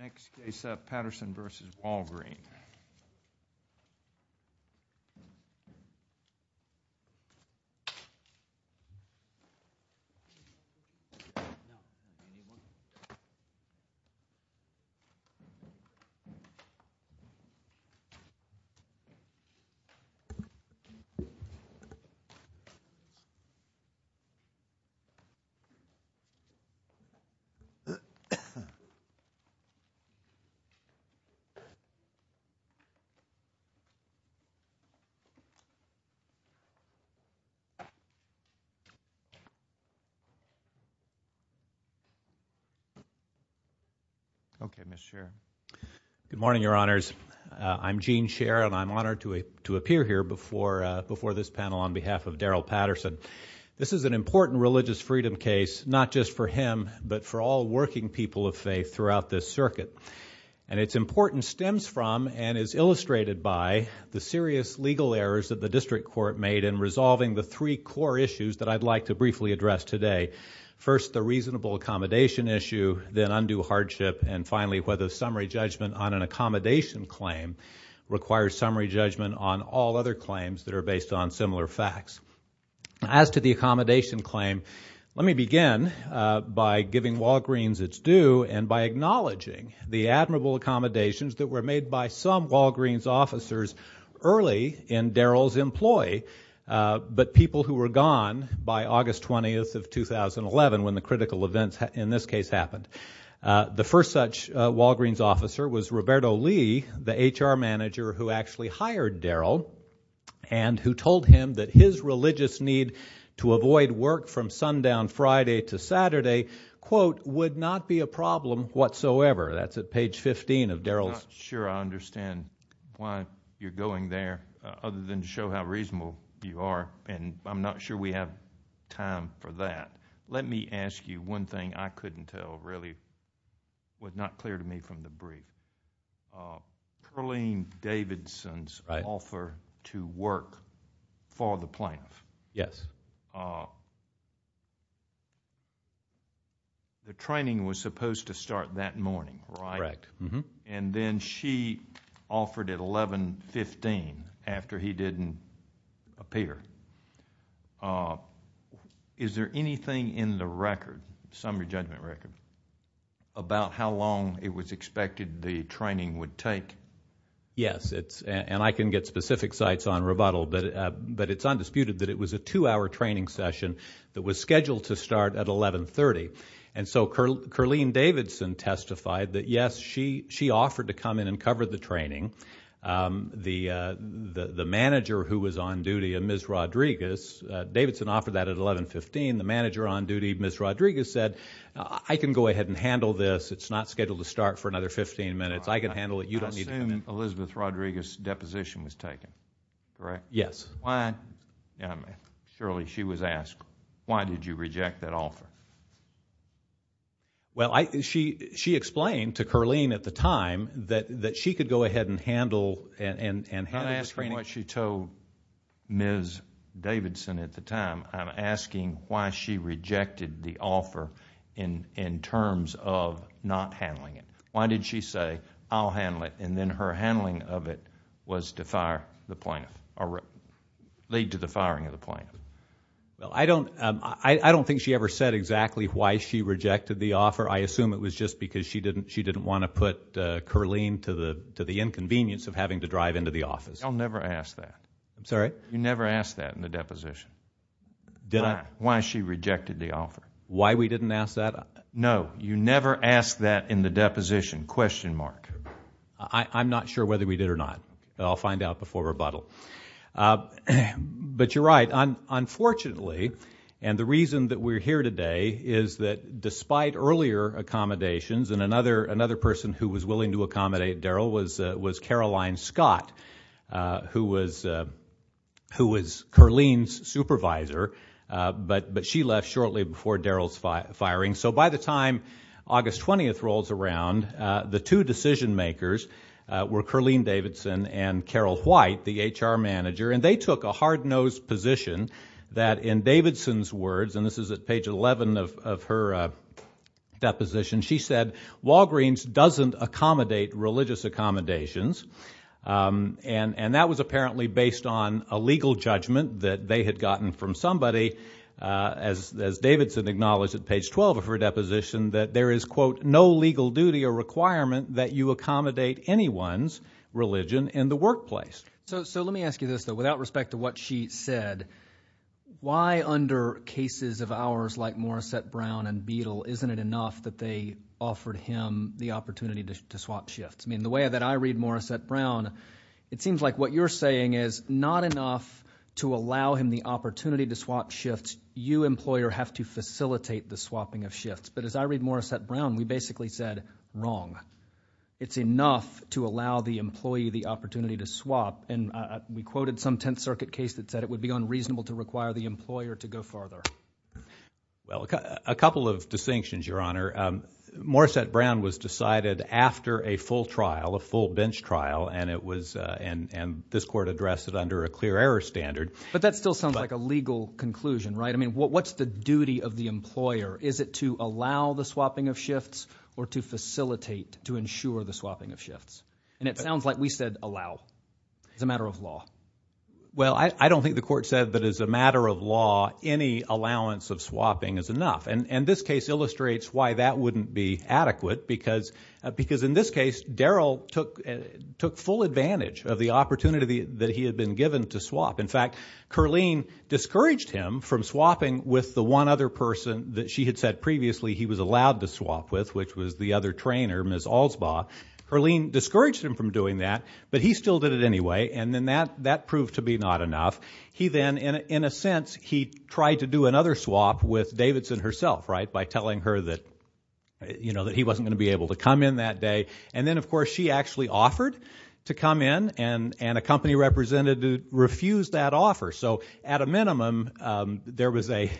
Next case up, Patterson v. Walgreen. Patterson v. Walgreen. Patterson v. Walgreen. Good morning, Your Honors. I'm Gene Scherer and I'm honored to appear here before this panel on behalf of Darrell Patterson. This is an important religious freedom case, not just for him, but for all working people of faith throughout this circuit. And its importance stems from and is illustrated by the serious legal errors that the district court made in resolving the three core issues that I'd like to briefly address today. First the reasonable accommodation issue, then undue hardship, and finally whether summary judgment on an accommodation claim requires summary judgment on all other claims that are based on similar facts. As to the accommodation claim, let me begin by giving Walgreens its due and by acknowledging the admirable accommodations that were made by some Walgreens officers early in Darrell's employ, but people who were gone by August 20th of 2011 when the critical events in this case happened. The first such Walgreens officer was Roberto Lee, the HR manager who actually hired Darrell and who told him that his religious need to avoid work from sundown Friday to Saturday quote, would not be a problem whatsoever. That's at page 15 of Darrell's... I'm not sure I understand why you're going there other than to show how reasonable you are and I'm not sure we have time for that. Let me ask you one thing I couldn't tell really, was not clear to me from the brief. Perlene Davidson's offer to work for the plaintiff, the training was supposed to start that morning, right? Correct. Then she offered at 11.15 after he didn't appear. Is there anything in the record, summary judgment record, about how long it was expected the training would take? Yes, and I can get specific sites on rebuttal, but it's undisputed that it was a two-hour training session that was scheduled to start at 11.30. Perlene Davidson testified that yes, she offered to come in and cover the training. The manager who was on duty, Ms. Rodriguez, Davidson offered that at 11.15. The manager on duty, Ms. Rodriguez, said, I can go ahead and handle this. It's not scheduled to start for another 15 minutes. I can handle it. You don't need to come in. I assume Elizabeth Rodriguez's deposition was taken, correct? Yes. Why... surely she was asked, why did you reject that offer? Well, she explained to Perlene at the time that she could go ahead and handle the training... I'm not asking what she told Ms. Davidson at the time. I'm asking why she rejected the offer in terms of not handling it. Why did she say, I'll handle it, and then her handling of it was to fire the plaintiff, or lead to the firing of the plaintiff? Well, I don't think she ever said exactly why she rejected the offer. I assume it was just because she didn't want to put Perlene to the inconvenience of having to drive into the office. Y'all never asked that. I'm sorry? You never asked that in the deposition. Did I? Why she rejected the offer. Why we didn't ask that? No, you never asked that in the deposition, question mark. I'm not sure whether we did or not, but I'll find out before rebuttal. But you're right. Unfortunately, and the reason that we're here today is that despite earlier accommodations, and another person who was willing to accommodate Daryl was Caroline Scott, who was Perlene's supervisor. But she left shortly before Daryl's firing. So by the time August 20th rolls around, the two decision makers were Caroline Davidson and Carol White, the HR manager. And they took a hard-nosed position that in Davidson's words, and this is at page 11 of her deposition, she said, Walgreens doesn't accommodate religious accommodations. And that was apparently based on a legal judgment that they had gotten from somebody, as Davidson acknowledged at page 12 of her deposition, that there is, quote, no legal duty or requirement that you accommodate anyone's religion in the workplace. So let me ask you this, though. Without respect to what she said, why under cases of ours like Morissette Brown and Beadle isn't it enough that they offered him the opportunity to swap shifts? I mean, the way that I read Morissette Brown, it seems like what you're saying is not enough to allow him the opportunity to swap shifts. You, employer, have to facilitate the swapping of shifts. But as I read Morissette Brown, we basically said, wrong. It's enough to allow the employee the opportunity to swap. And we quoted some Tenth Circuit case that said it would be unreasonable to require the employer to go farther. Well, a couple of distinctions, Your Honor. Morissette Brown was decided after a full trial, a full bench trial, and this court addressed it under a clear error standard. But that still sounds like a legal conclusion, right? I mean, what's the duty of the employer? Is it to allow the swapping of shifts or to facilitate, to ensure the swapping of shifts? And it sounds like we said allow. It's a matter of law. Well, I don't think the court said that as a matter of law, any allowance of swapping is enough. And this case illustrates why that wouldn't be adequate because in this case, Darrell took full advantage of the opportunity that he had been given to swap. In fact, Kurleen discouraged him from swapping with the one other person that she had said previously he was allowed to swap with, which was the other trainer, Ms. Alsbaugh. Kurleen discouraged him from doing that, but he still did it anyway, and then that proved to be not enough. He then, in a sense, he tried to do another swap with Davidson herself, right, by telling her that, you know, that he wasn't going to be able to come in that day. And then, of course, she actually offered to come in, and a company representative refused that offer. So at a minimum, there was a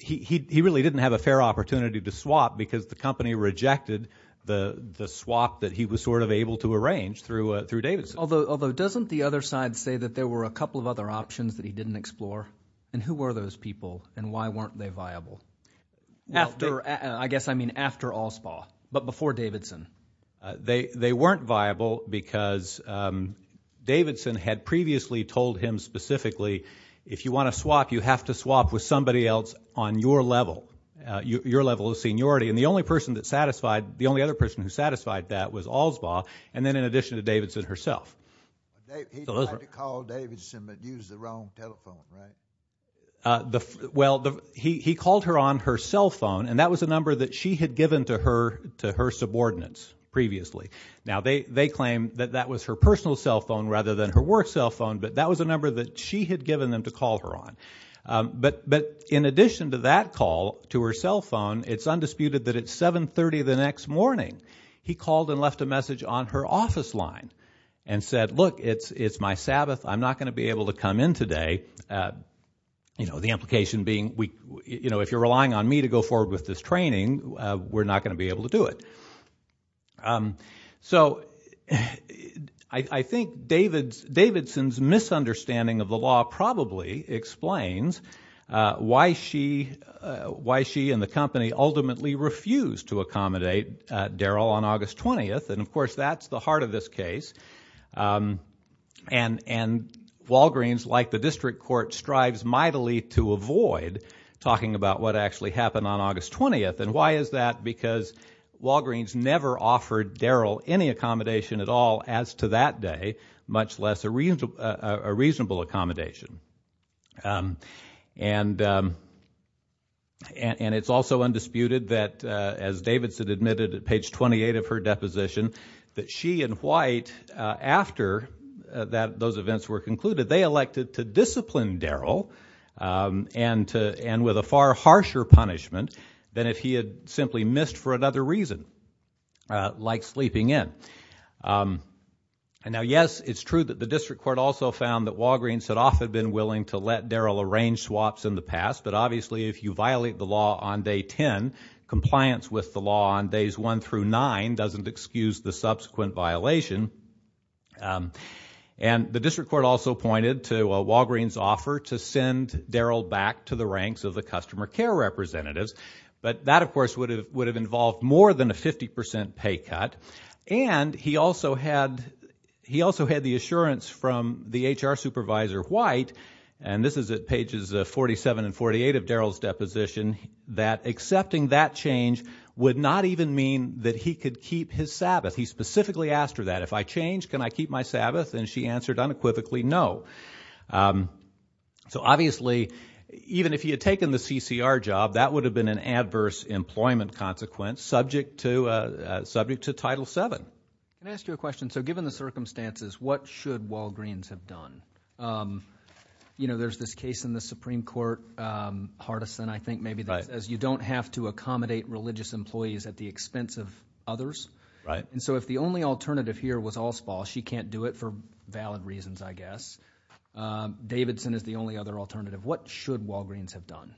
he really didn't have a fair opportunity to swap because the company rejected the swap that he was sort of able to arrange through Davidson. Although doesn't the other side say that there were a couple of other options that he didn't explore? And who were those people, and why weren't they viable? After, I guess I mean after Alsbaugh, but before Davidson. They weren't viable because Davidson had previously told him specifically, if you want to swap, you have to swap with somebody else on your level, your level of seniority. And the only other person that satisfied that was Alsbaugh, and then in addition to Davidson herself. He tried to call Davidson but used the wrong telephone, right? Well, he called her on her cell phone, and that was a number that she had given to her subordinates previously. Now, they claim that that was her personal cell phone rather than her work cell phone, but that was a number that she had given them to call her on. But in addition to that call to her cell phone, it's undisputed that at 7.30 the next morning, he called and left a message on her office line and said, look, it's my Sabbath. I'm not going to be able to come in today. You know, the implication being, you know, if you're relying on me to go forward with this training, we're not going to be able to do it. So I think Davidson's misunderstanding of the law probably explains why she and the company ultimately refused to accommodate Darryl on August 20th. And, of course, that's the heart of this case. And Walgreens, like the district court, strives mightily to avoid talking about what actually happened on August 20th. And why is that? Because Walgreens never offered Darryl any accommodation at all as to that day, much less a reasonable accommodation. And it's also undisputed that, as Davidson admitted at page 28 of her deposition, that she and White, after those events were concluded, they elected to discipline Darryl and with a far harsher punishment than if he had simply missed for another reason, like sleeping in. And now, yes, it's true that the district court also found that Walgreens had often been willing to let Darryl arrange swaps in the past. But obviously, if you violate the law on day 10, compliance with the law on days 1 through 9 doesn't excuse the subsequent violation. And the district court also pointed to Walgreens' offer to send Darryl back to the ranks of the customer care representatives. But that, of course, would have involved more than a 50% pay cut. And he also had the assurance from the HR supervisor, White, and this is at pages 47 and 48 of Darryl's deposition, that accepting that change would not even mean that he could keep his Sabbath. He specifically asked her that. If I change, can I keep my Sabbath? And she answered unequivocally no. So obviously, even if he had taken the CCR job, that would have been an adverse employment consequence subject to Title VII. Can I ask you a question? So given the circumstances, what should Walgreens have done? You know, there's this case in the Supreme Court, Hardison, I think maybe, that says you don't have to accommodate religious employees at the expense of others. Right. And so if the only alternative here was all spalls, she can't do it for valid reasons, I guess. Davidson is the only other alternative. What should Walgreens have done?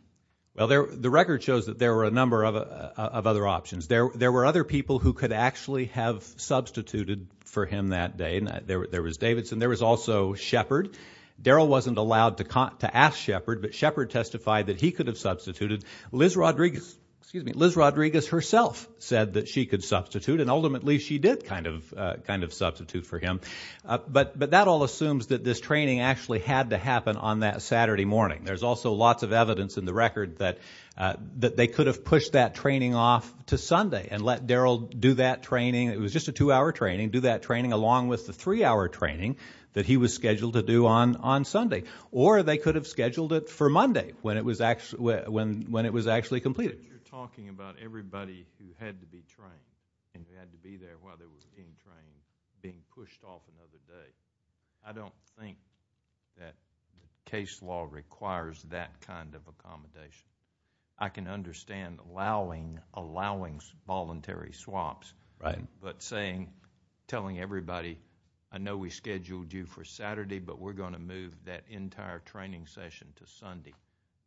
Well, the record shows that there were a number of other options. There were other people who could actually have substituted for him that day. There was Davidson. There was also Shepard. Darryl wasn't allowed to ask Shepard, but Shepard testified that he could have substituted. Liz Rodriguez herself said that she could substitute. And ultimately, she did kind of substitute for him. But that all assumes that this training actually had to happen on that Saturday morning. There's also lots of evidence in the record that they could have pushed that training off to Sunday and let Darryl do that training. It was just a two-hour training. Do that training along with the three-hour training that he was scheduled to do on Sunday. Or they could have scheduled it for Monday when it was actually completed. But you're talking about everybody who had to be trained and had to be there while they were being trained being pushed off another day. I don't think that case law requires that kind of accommodation. I can understand allowing voluntary swaps, but telling everybody, I know we scheduled you for Saturday, but we're going to move that entire training session to Sunday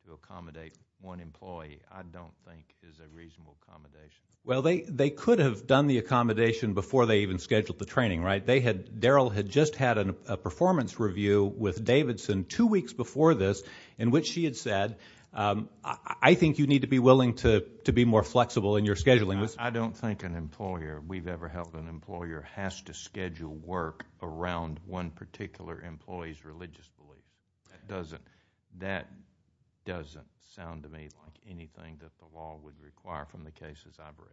to accommodate one employee. I don't think is a reasonable accommodation. Well, they could have done the accommodation before they even scheduled the training, right? Darryl had just had a performance review with Davidson two weeks before this in which she had said, I think you need to be willing to be more flexible in your scheduling. I don't think an employer, if we've ever helped an employer, has to schedule work around one particular employee's religious beliefs. That doesn't sound to me like anything that the law would require from the cases I've read.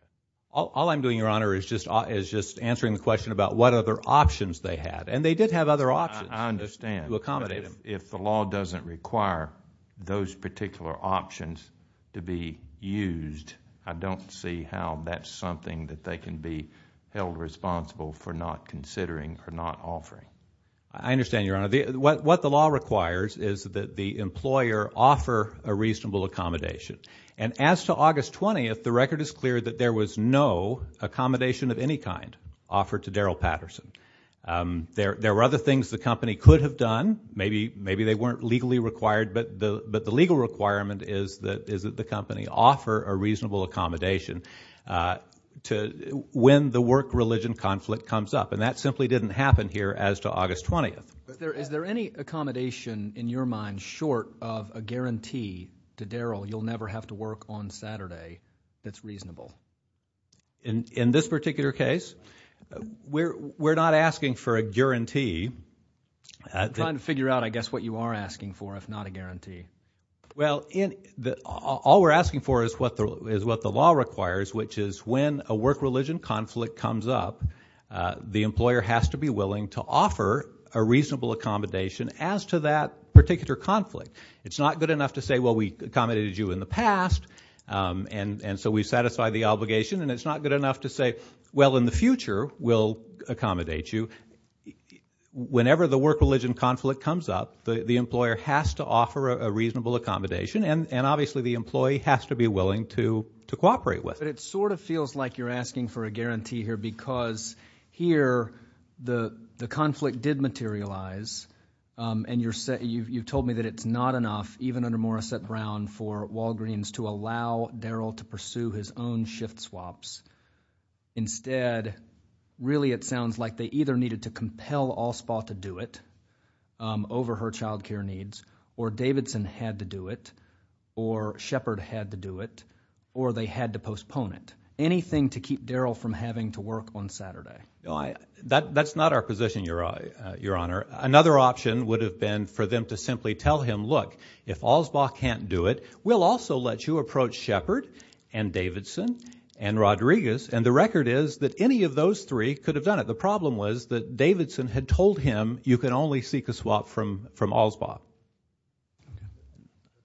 All I'm doing, Your Honor, is just answering the question about what other options they had. And they did have other options to accommodate them. I understand. But if the law doesn't require those particular options to be used, I don't see how that's something that they can be held responsible for not considering or not offering. I understand, Your Honor. What the law requires is that the employer offer a reasonable accommodation. And as to August 20th, the record is clear that there was no accommodation of any kind offered to Darryl Patterson. There were other things the company could have done. Maybe they weren't legally required. But the legal requirement is that the company offer a reasonable accommodation when the work-religion conflict comes up. And that simply didn't happen here as to August 20th. Is there any accommodation in your mind short of a guarantee to Darryl you'll never have to work on Saturday that's reasonable? In this particular case, we're not asking for a guarantee. I'm trying to figure out, I guess, what you are asking for, if not a guarantee. Well, all we're asking for is what the law requires, which is when a work-religion conflict comes up, the employer has to be willing to offer a reasonable accommodation as to that particular conflict. It's not good enough to say, well, we accommodated you in the past, and so we satisfy the obligation. And it's not good enough to say, well, in the future, we'll accommodate you. Whenever the work-religion conflict comes up, the employer has to offer a reasonable accommodation, and obviously the employee has to be willing to cooperate with it. But it sort of feels like you're asking for a guarantee here because here the conflict did materialize, and you told me that it's not enough, even under Morissette Brown, for Walgreens to allow Darryl to pursue his own shift swaps. Instead, really it sounds like they either needed to compel Allspot to do it over her child care needs, or Davidson had to do it, or Shepard had to do it, or they had to postpone it. Anything to keep Darryl from having to work on Saturday. That's not our position, Your Honor. Another option would have been for them to simply tell him, look, if Allspot can't do it, we'll also let you approach Shepard and Davidson and Rodriguez, and the record is that any of those three could have done it. The problem was that Davidson had told him you can only seek a swap from Allspot.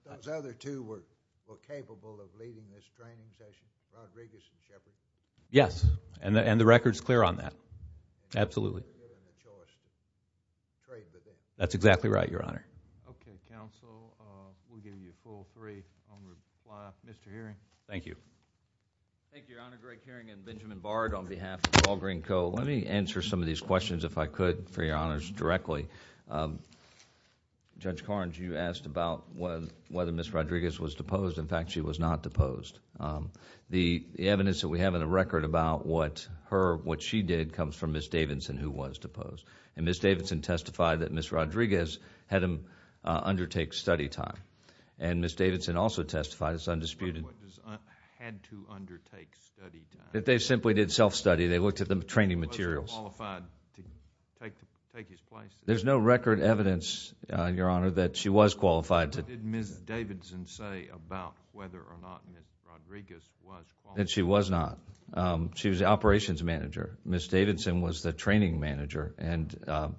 Those other two were capable of leading this training session, Rodriguez and Shepard? Yes, and the record's clear on that. Absolutely. That's exactly right, Your Honor. Okay, counsel, we'll give you a full three on the fly-off. Mr. Hearing? Thank you. Thank you, Your Honor. Greg Hearing and Benjamin Bard on behalf of Walgreens Co. Let me answer some of these questions, if I could, for Your Honors, directly. Judge Carnes, you asked about whether Ms. Rodriguez was deposed. In fact, she was not deposed. The evidence that we have in the record about what she did comes from Ms. Davidson, who was deposed. Ms. Davidson testified that Ms. Rodriguez had to undertake study time, and Ms. Davidson also testified, it's undisputed... Had to undertake study time. That they simply did self-study. They looked at the training materials. Was she qualified to take his place? There's no record evidence, Your Honor, that she was qualified to... What did Ms. Davidson say about whether or not Ms. Rodriguez was qualified? That she was not. She was the operations manager. Ms. Davidson was the training manager, and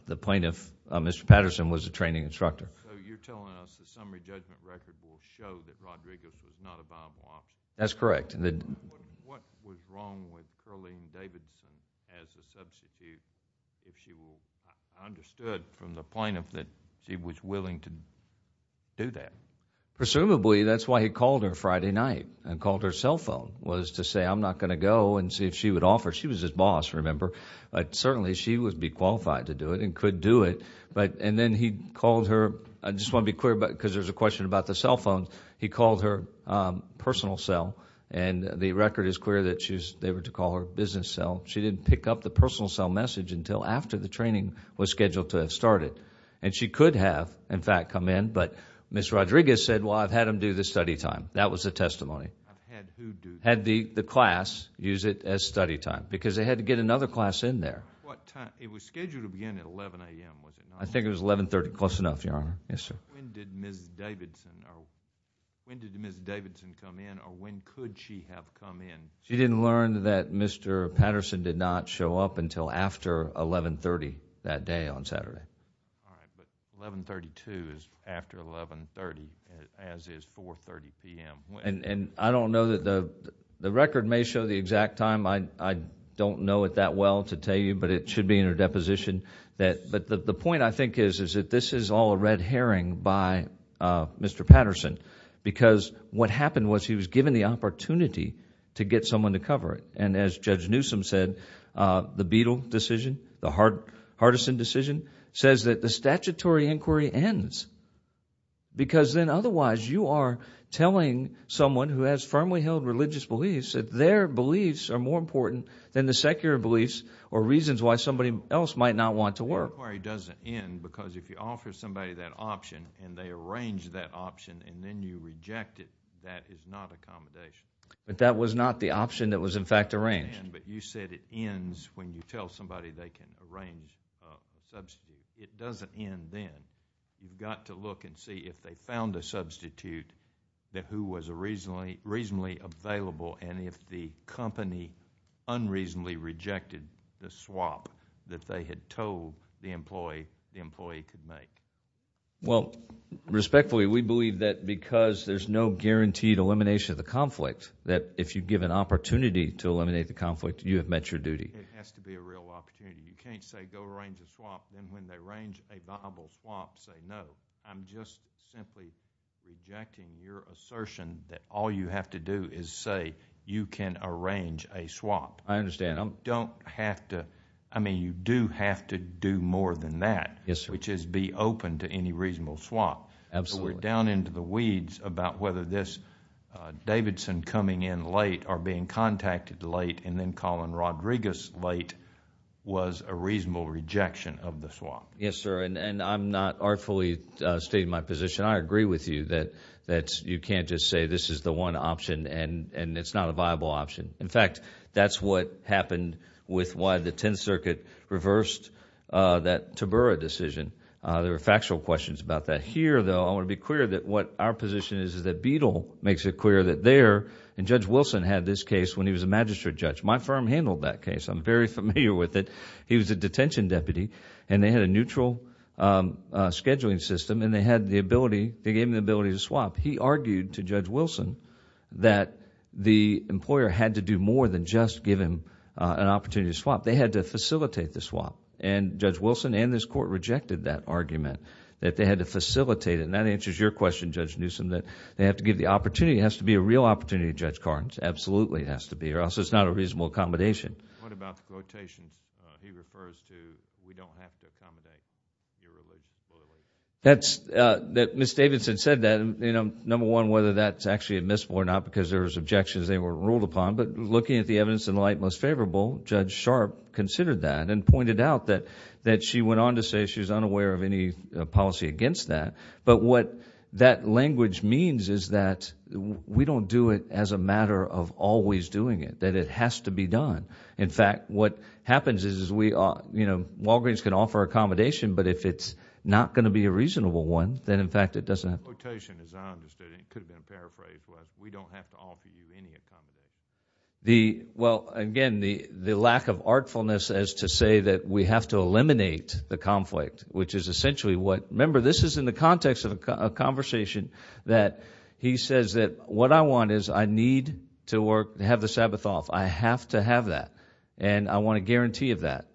the plaintiff, Mr. Patterson, was the training instructor. So you're telling us the summary judgment record will show that Rodriguez was not a viable option? That's correct. What was wrong with Carleen Davidson as a substitute, if you understood from the plaintiff that she was willing to do that? Presumably, that's why he called her Friday night and called her cell phone, was to say, I'm not going to go and see if she would offer. She was his boss, remember? Certainly, she would be qualified to do it and could do it. And then he called her... I just want to be clear, because there's a question about the cell phone. He called her personal cell, and the record is clear that they were to call her business cell. She didn't pick up the personal cell message until after the training was scheduled to have started. And she could have, in fact, come in. But Ms. Rodriguez said, well, I've had them do this study time. That was the testimony. Had who do that? Had the class use it as study time, because they had to get another class in there. What time? It was scheduled to begin at 11 a.m., was it not? I think it was 11.30, close enough, Your Honor. Yes, sir. When did Ms. Davidson come in, or when could she have come in? She didn't learn that Mr. Patterson did not show up until after 11.30 that day on Saturday. All right, but 11.32 is after 11.30, as is 4.30 p.m. And I don't know that... the record may show the exact time. I don't know it that well to tell you, but it should be in her deposition. But the point, I think, is that this is all a red herring by Mr. Patterson, because what happened was he was given the opportunity to get someone to cover it. And as Judge Newsom said, the Beadle decision, the Hardison decision, says that the statutory inquiry ends, because then otherwise you are telling someone who has firmly held religious beliefs that their beliefs are more important than the secular beliefs or reasons why somebody else might not want to work. The inquiry doesn't end, because if you offer somebody that option and they arrange that option and then you reject it, that is not accommodation. But that was not the option that was, in fact, arranged. But you said it ends when you tell somebody they can arrange a substitute. It doesn't end then. You've got to look and see if they found a substitute that was reasonably available and if the company unreasonably rejected the swap that they had told the employee the employee could make. Well, respectfully, we believe that because there's no guaranteed elimination of the conflict, that if you give an opportunity to eliminate the conflict, you have met your duty. It has to be a real opportunity. You can't say go arrange a swap, then when they arrange a viable swap say no. I'm just simply rejecting your assertion that all you have to do is say you can arrange a swap. I understand. You don't have to. I mean you do have to do more than that. Yes, sir. Which is be open to any reasonable swap. Absolutely. We're down into the weeds about whether this Davidson coming in late or being contacted late and then calling Rodriguez late was a reasonable rejection of the swap. Yes, sir. I'm not artfully stating my position. I agree with you that you can't just say this is the one option and it's not a viable option. In fact, that's what happened with why the Tenth Circuit reversed that Tabora decision. There are factual questions about that. Here, though, I want to be clear that what our position is is that Beadle makes it clear that there... and Judge Wilson had this case when he was a magistrate judge. My firm handled that case. I'm very familiar with it. He was a detention deputy and they had a neutral scheduling system and they had the ability... they gave him the ability to swap. He argued to Judge Wilson that the employer had to do more than just give him an opportunity to swap. They had to facilitate the swap. And Judge Wilson and this court rejected that argument that they had to facilitate it. And that answers your question, Judge Newsom, that they have to give the opportunity. It has to be a real opportunity, Judge Carnes. Absolutely it has to be or else it's not a reasonable accommodation. What about the quotation he refers to, we don't have to accommodate irreligion or religion? That's... Ms. Davidson said that and, you know, number one, whether that's actually admissible or not because there's objections they weren't ruled upon. But looking at the evidence in the light most favorable, Judge Sharp considered that and pointed out that she went on to say she's unaware of any policy against that. But what that language means is that we don't do it as a matter of always doing it. That it has to be done. In fact, what happens is we are, you know, Walgreens can offer accommodation but if it's not going to be a reasonable one then, in fact, it doesn't... The quotation, as I understood it, could have been paraphrased, was we don't have to offer you any accommodation. The... well, again, the lack of artfulness as to say that we have to eliminate the conflict, which is essentially what... remember, this is in the context of a conversation that he says that what I want is I need to have the Sabbath off. I have to have that. And I want a guarantee of that.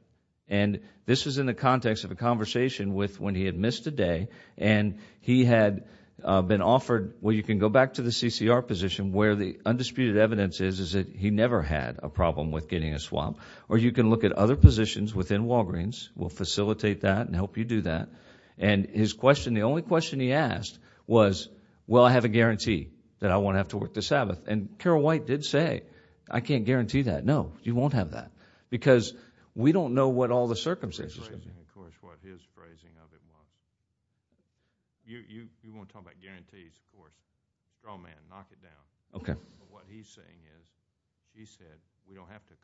And this was in the context of a conversation with when he had missed a day and he had been offered, well, you can go back to the CCR position where the undisputed evidence is that he never had a problem with getting a swap or you can look at other positions within Walgreens. We'll facilitate that and help you do that. And his question, the only question he asked was, well, I have a guarantee that I won't have to work the Sabbath. And Carol White did say, I can't guarantee that. No, you won't have that because we don't know what all the circumstances... It's phrasing, of course, what his phrasing of it was. You want to talk about guarantees, of course. Straw man, knock it down. Okay. But what he's saying is he said we don't have to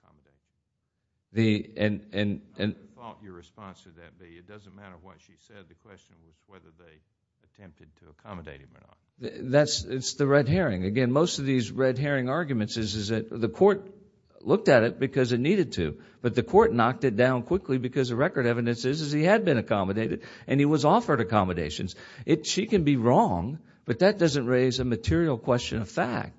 accommodate. And... What do you thought your response to that would be? It doesn't matter what she said. The question was whether they attempted to accommodate him or not. It's the red herring. Again, most of these red herring arguments is that the court looked at it because it needed to. But the court knocked it down quickly because the record evidence is he had been accommodated and he was offered accommodations. She can be wrong, but that doesn't raise a material question of fact.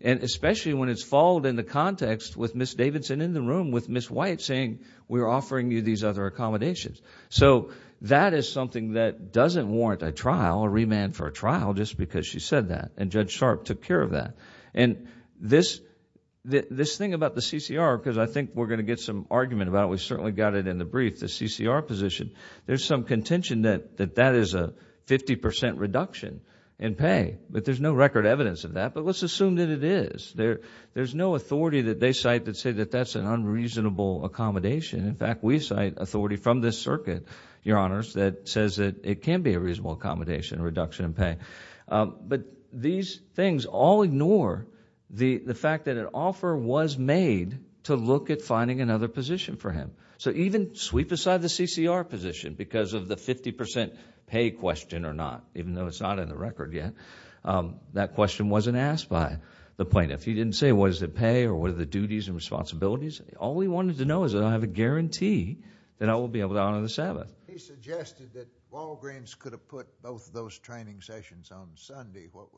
And especially when it's followed in the context with Ms. Davidson in the room with Ms. White saying, we're offering you these other accommodations. So that is something that doesn't warrant a trial, a remand for a trial, just because she said that. And Judge Sharp took care of that. And this thing about the CCR, because I think we're going to get some argument about it. We certainly got it in the brief, the CCR position. There's some contention that that is a 50% reduction in pay. But there's no record evidence of that. But let's assume that it is. There's no authority that they cite that say that that's an unreasonable accommodation. In fact, we cite authority from this circuit, Your Honors, that says that it can be a reasonable accommodation, a reduction in pay. But these things all ignore the fact that an offer was made to look at finding another position for him. So even sweep aside the CCR position because of the 50% pay question or not, even though it's not in the record yet, that question wasn't asked by the plaintiff. He didn't say what is the pay or what are the duties and responsibilities. All he wanted to know is that I have a guarantee that I will be able to honor the Sabbath. He suggested that Walgreens could have put both of those training sessions on Sunday. What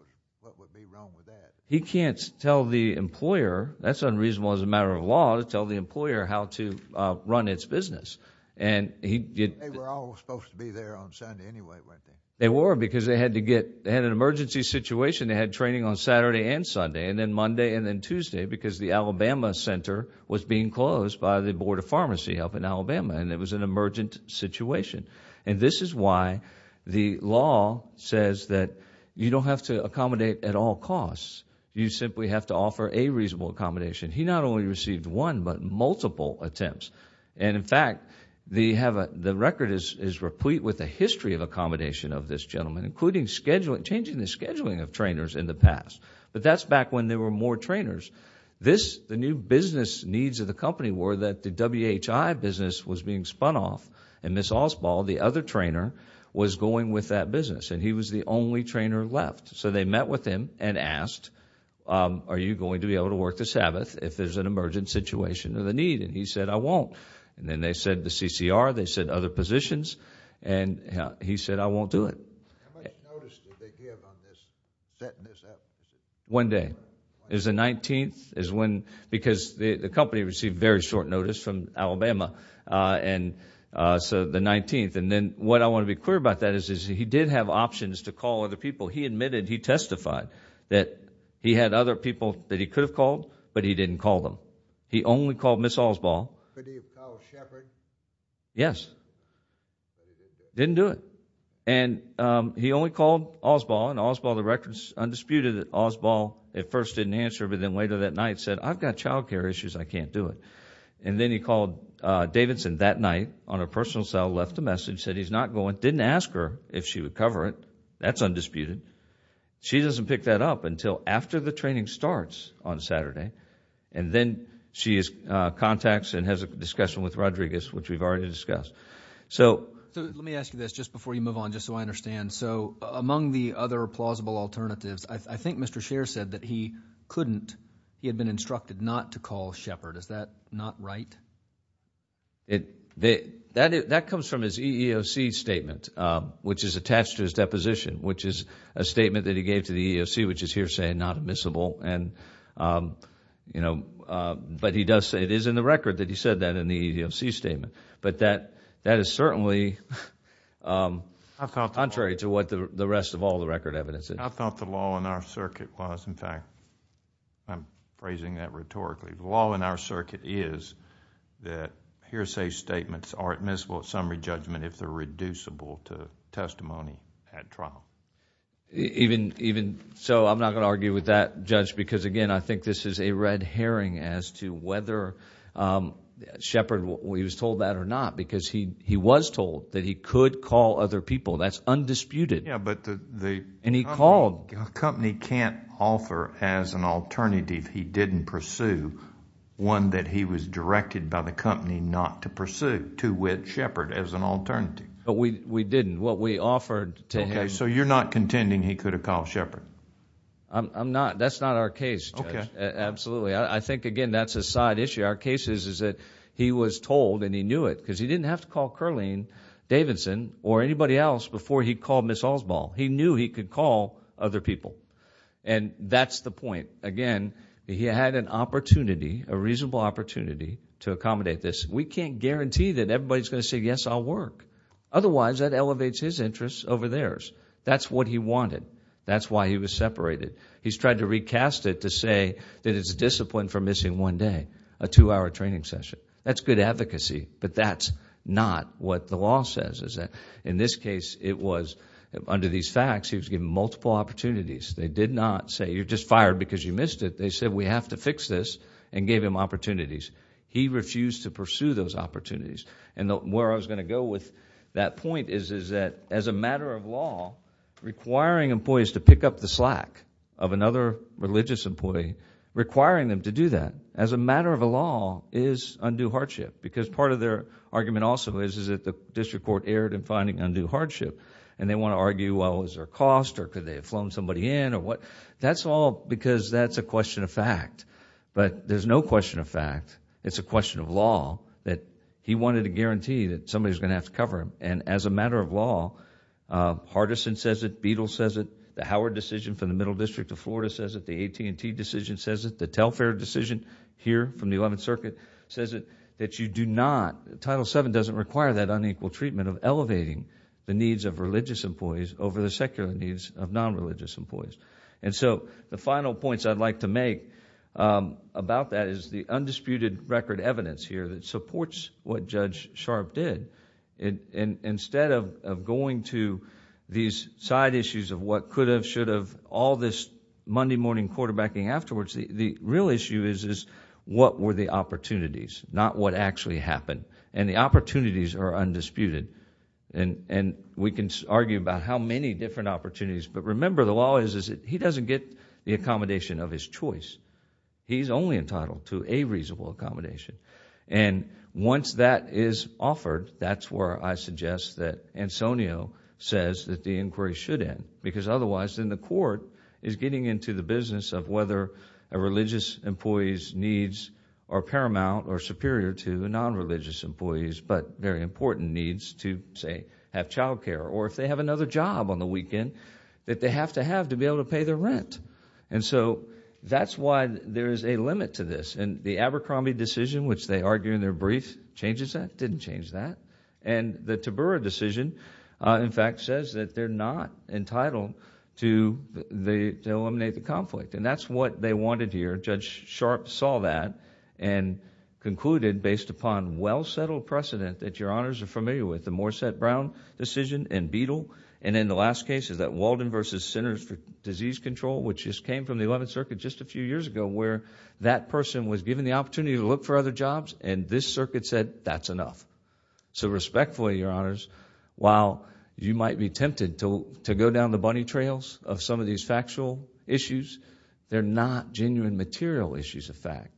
would be wrong with that? He can't tell the employer that's unreasonable as a matter of law to tell the employer how to run its business. They were all supposed to be there on Sunday anyway, weren't they? They were because they had an emergency situation. They had training on Saturday and Sunday and then Monday and then Tuesday because the Alabama Center was being closed by the Board of Pharmacy help in Alabama, and it was an emergent situation. And this is why the law says that you don't have to accommodate at all costs. You simply have to offer a reasonable accommodation. He not only received one but multiple attempts. In fact, the record is replete with a history of accommodation of this gentleman, including changing the scheduling of trainers in the past. But that's back when there were more trainers. The new business needs of the company were that the WHI business was being spun off, and Ms. Alsbaugh, the other trainer, was going with that business, and he was the only trainer left. So they met with him and asked, are you going to be able to work the Sabbath if there's an emergent situation or the need? And he said, I won't. And then they said the CCR, they said other positions, and he said, I won't do it. How much notice did they give on this, setting this up? One day. It was the 19th, because the company received very short notice from Alabama. So the 19th. And then what I want to be clear about that is he did have options to call other people. He admitted, he testified that he had other people that he could have called, but he didn't call them. He only called Ms. Alsbaugh. Could he have called Shepard? Yes. Didn't do it. And he only called Alsbaugh, and Alsbaugh, the record is undisputed that Alsbaugh at first didn't answer, but then later that night said, I've got child care issues, I can't do it. And then he called Davidson that night on a personal cell, left a message, said he's not going, but didn't ask her if she would cover it. That's undisputed. She doesn't pick that up until after the training starts on Saturday, and then she contacts and has a discussion with Rodriguez, which we've already discussed. So let me ask you this just before you move on, just so I understand. So among the other plausible alternatives, I think Mr. Scher said that he couldn't, he had been instructed not to call Shepard. Is that not right? That comes from his EEOC statement, which is attached to his deposition, which is a statement that he gave to the EEOC, which is hearsay and not admissible. But he does say it is in the record that he said that in the EEOC statement. But that is certainly contrary to what the rest of all the record evidence is. I thought the law in our circuit was, in fact, I'm phrasing that rhetorically, the law in our circuit is that hearsay statements are admissible at summary judgment if they're reducible to testimony at trial. So I'm not going to argue with that, Judge, because, again, I think this is a red herring as to whether Shepard was told that or not, because he was told that he could call other people. That's undisputed. And he called. A company can't offer as an alternative if he didn't pursue one that he was directed by the company not to pursue, to which Shepard as an alternative. But we didn't. What we offered to him. Okay, so you're not contending he could have called Shepard? I'm not. That's not our case, Judge. Okay. Absolutely. I think, again, that's a side issue. Our case is that he was told, and he knew it, because he didn't have to call Curleen Davidson or anybody else before he called Ms. Alsbaugh. He knew he could call other people, and that's the point. Again, he had an opportunity, a reasonable opportunity, to accommodate this. We can't guarantee that everybody's going to say, yes, I'll work. Otherwise, that elevates his interests over theirs. That's what he wanted. That's why he was separated. He's tried to recast it to say that it's a discipline for missing one day, a two-hour training session. That's good advocacy, but that's not what the law says. In this case, it was, under these facts, he was given multiple opportunities. They did not say, you're just fired because you missed it. They said, we have to fix this, and gave him opportunities. He refused to pursue those opportunities. Where I was going to go with that point is that, as a matter of law, requiring employees to pick up the slack of another religious employee, requiring them to do that, as a matter of a law, is undue hardship, because part of their argument also is that the district court erred in finding undue hardship. They want to argue, well, is there a cost, or could they have flown somebody in, or what? That's all because that's a question of fact. There's no question of fact. It's a question of law that he wanted to guarantee that somebody was going to have to cover him. As a matter of law, Hardison says it. Beadle says it. The Howard decision from the Middle District of Florida says it. The AT&T decision says it. The Telfair decision here from the Eleventh Circuit says it, that you do not... Title VII doesn't require that unequal treatment of elevating the needs of religious employees over the secular needs of non-religious employees. The final points I'd like to make about that is the undisputed record evidence here that supports what Judge Sharp did. Instead of going to these side issues of what could have, should have, all this Monday morning quarterbacking afterwards, the real issue is what were the opportunities, not what actually happened. The opportunities are undisputed. We can argue about how many different opportunities, but remember the law is that he doesn't get the accommodation of his choice. He's only entitled to a reasonable accommodation. Once that is offered, that's where I suggest that Ansonio says that the inquiry should end, because otherwise then the court is getting into the business of whether a religious employee's needs are paramount or superior to non-religious employees' but very important needs to, say, have child care or if they have another job on the weekend that they have to have to be able to pay their rent. That's why there is a limit to this. The Abercrombie decision, which they argue in their brief, changes that, didn't change that. The Tabura decision, in fact, says that they're not entitled to eliminate the conflict, and that's what they wanted here. Judge Sharp saw that and concluded, based upon well-settled precedent that your Honors are familiar with, the Morset-Brown decision and Beadle, and in the last cases, that Walden v. Centers for Disease Control, which just came from the 11th Circuit just a few years ago, where that person was given the opportunity to look for other jobs, and this Circuit said, that's enough. Respectfully, your Honors, while you might be tempted to go down the bunny trails of some of these factual issues, they're not genuine material issues of fact,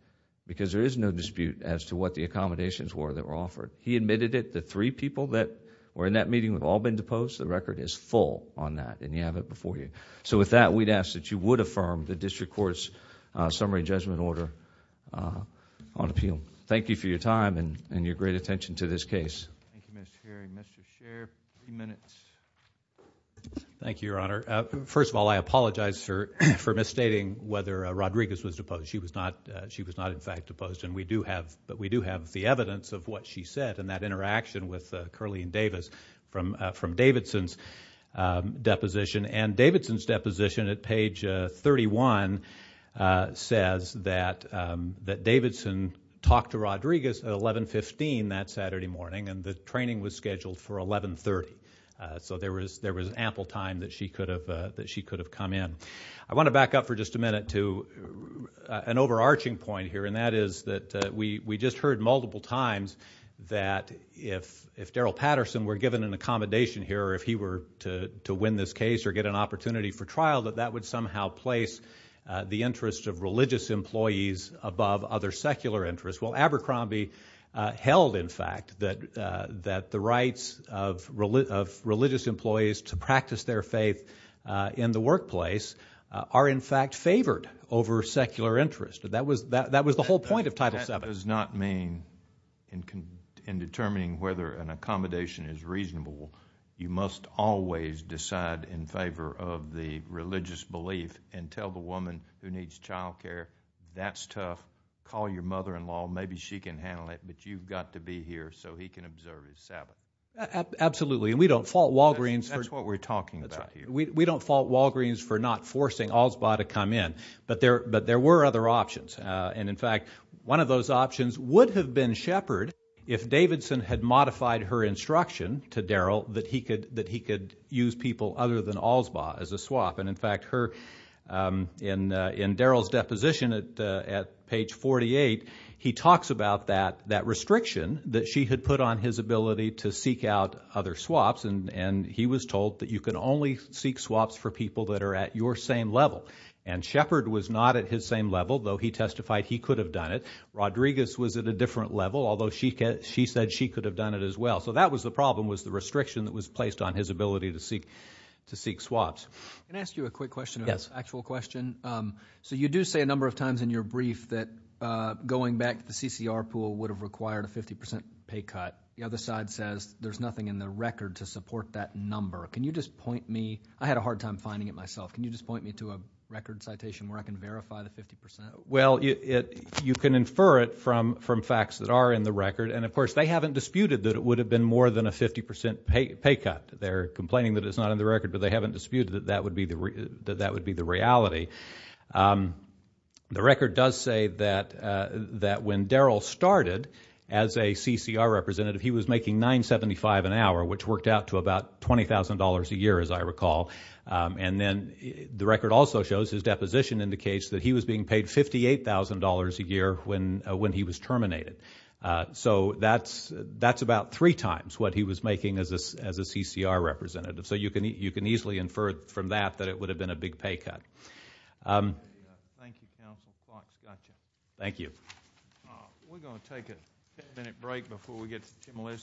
because there is no dispute as to what the accommodations were that were offered. He admitted it. The three people that were in that meeting have all been deposed. The record is full on that, and you have it before you. With that, we'd ask that you would affirm the District Court's summary judgment order on appeal. Thank you for your time and your great attention to this case. Thank you, Mr. Hearing. Mr. Sher, a few minutes. Thank you, Your Honor. First of all, I apologize for misstating whether Rodriguez was deposed. She was not, in fact, deposed, but we do have the evidence of what she said and that interaction with Curley and Davis from Davidson's deposition. And Davidson's deposition at page 31 says that Davidson talked to Rodriguez at 1115 that Saturday morning, and the training was scheduled for 1130. So there was ample time that she could have come in. I want to back up for just a minute to an overarching point here, and that is that we just heard multiple times that if Darrell Patterson were given an accommodation here or if he were to win this case or get an opportunity for trial, that that would somehow place the interests of religious employees above other secular interests. Abercrombie held, in fact, that the rights of religious employees to practice their faith in the workplace are, in fact, favored over secular interest. That was the whole point of Title VII. That does not mean in determining whether an accommodation is reasonable, you must always decide in favor of the religious belief and tell the woman who needs childcare, that's tough, call your mother-in-law, maybe she can handle it, but you've got to be here so he can observe his Sabbath. Absolutely, and we don't fault Walgreens. That's what we're talking about here. We don't fault Walgreens for not forcing Allsbaugh to come in, but there were other options. And, in fact, one of those options would have been Shepard if Davidson had modified her instruction to Darrell that he could use people other than Allsbaugh as a swap. And, in fact, in Darrell's deposition at page 48, he talks about that restriction that she had put on his ability to seek out other swaps, and he was told that you can only seek swaps for people that are at your same level. And Shepard was not at his same level, though he testified he could have done it. Rodriguez was at a different level, although she said she could have done it as well. So that was the problem, was the restriction that was placed on his ability to seek swaps. Can I ask you a quick question, an actual question? Yes. So you do say a number of times in your brief that going back to the CCR pool would have required a 50 percent pay cut. The other side says there's nothing in the record to support that number. Can you just point me? I had a hard time finding it myself. Can you just point me to a record citation where I can verify the 50 percent? Well, you can infer it from facts that are in the record. And, of course, they haven't disputed that it would have been more than a 50 percent pay cut. They're complaining that it's not in the record, but they haven't disputed that that would be the reality. The record does say that when Darrell started as a CCR representative, he was making $9.75 an hour, which worked out to about $20,000 a year, as I recall. And then the record also shows his deposition indicates that he was being paid $58,000 a year when he was terminated. So that's about three times what he was making as a CCR representative. So you can easily infer from that that it would have been a big pay cut. Thank you, Counsel. Got you. Thank you. We're going to take a ten-minute break before we get to Tim Lister.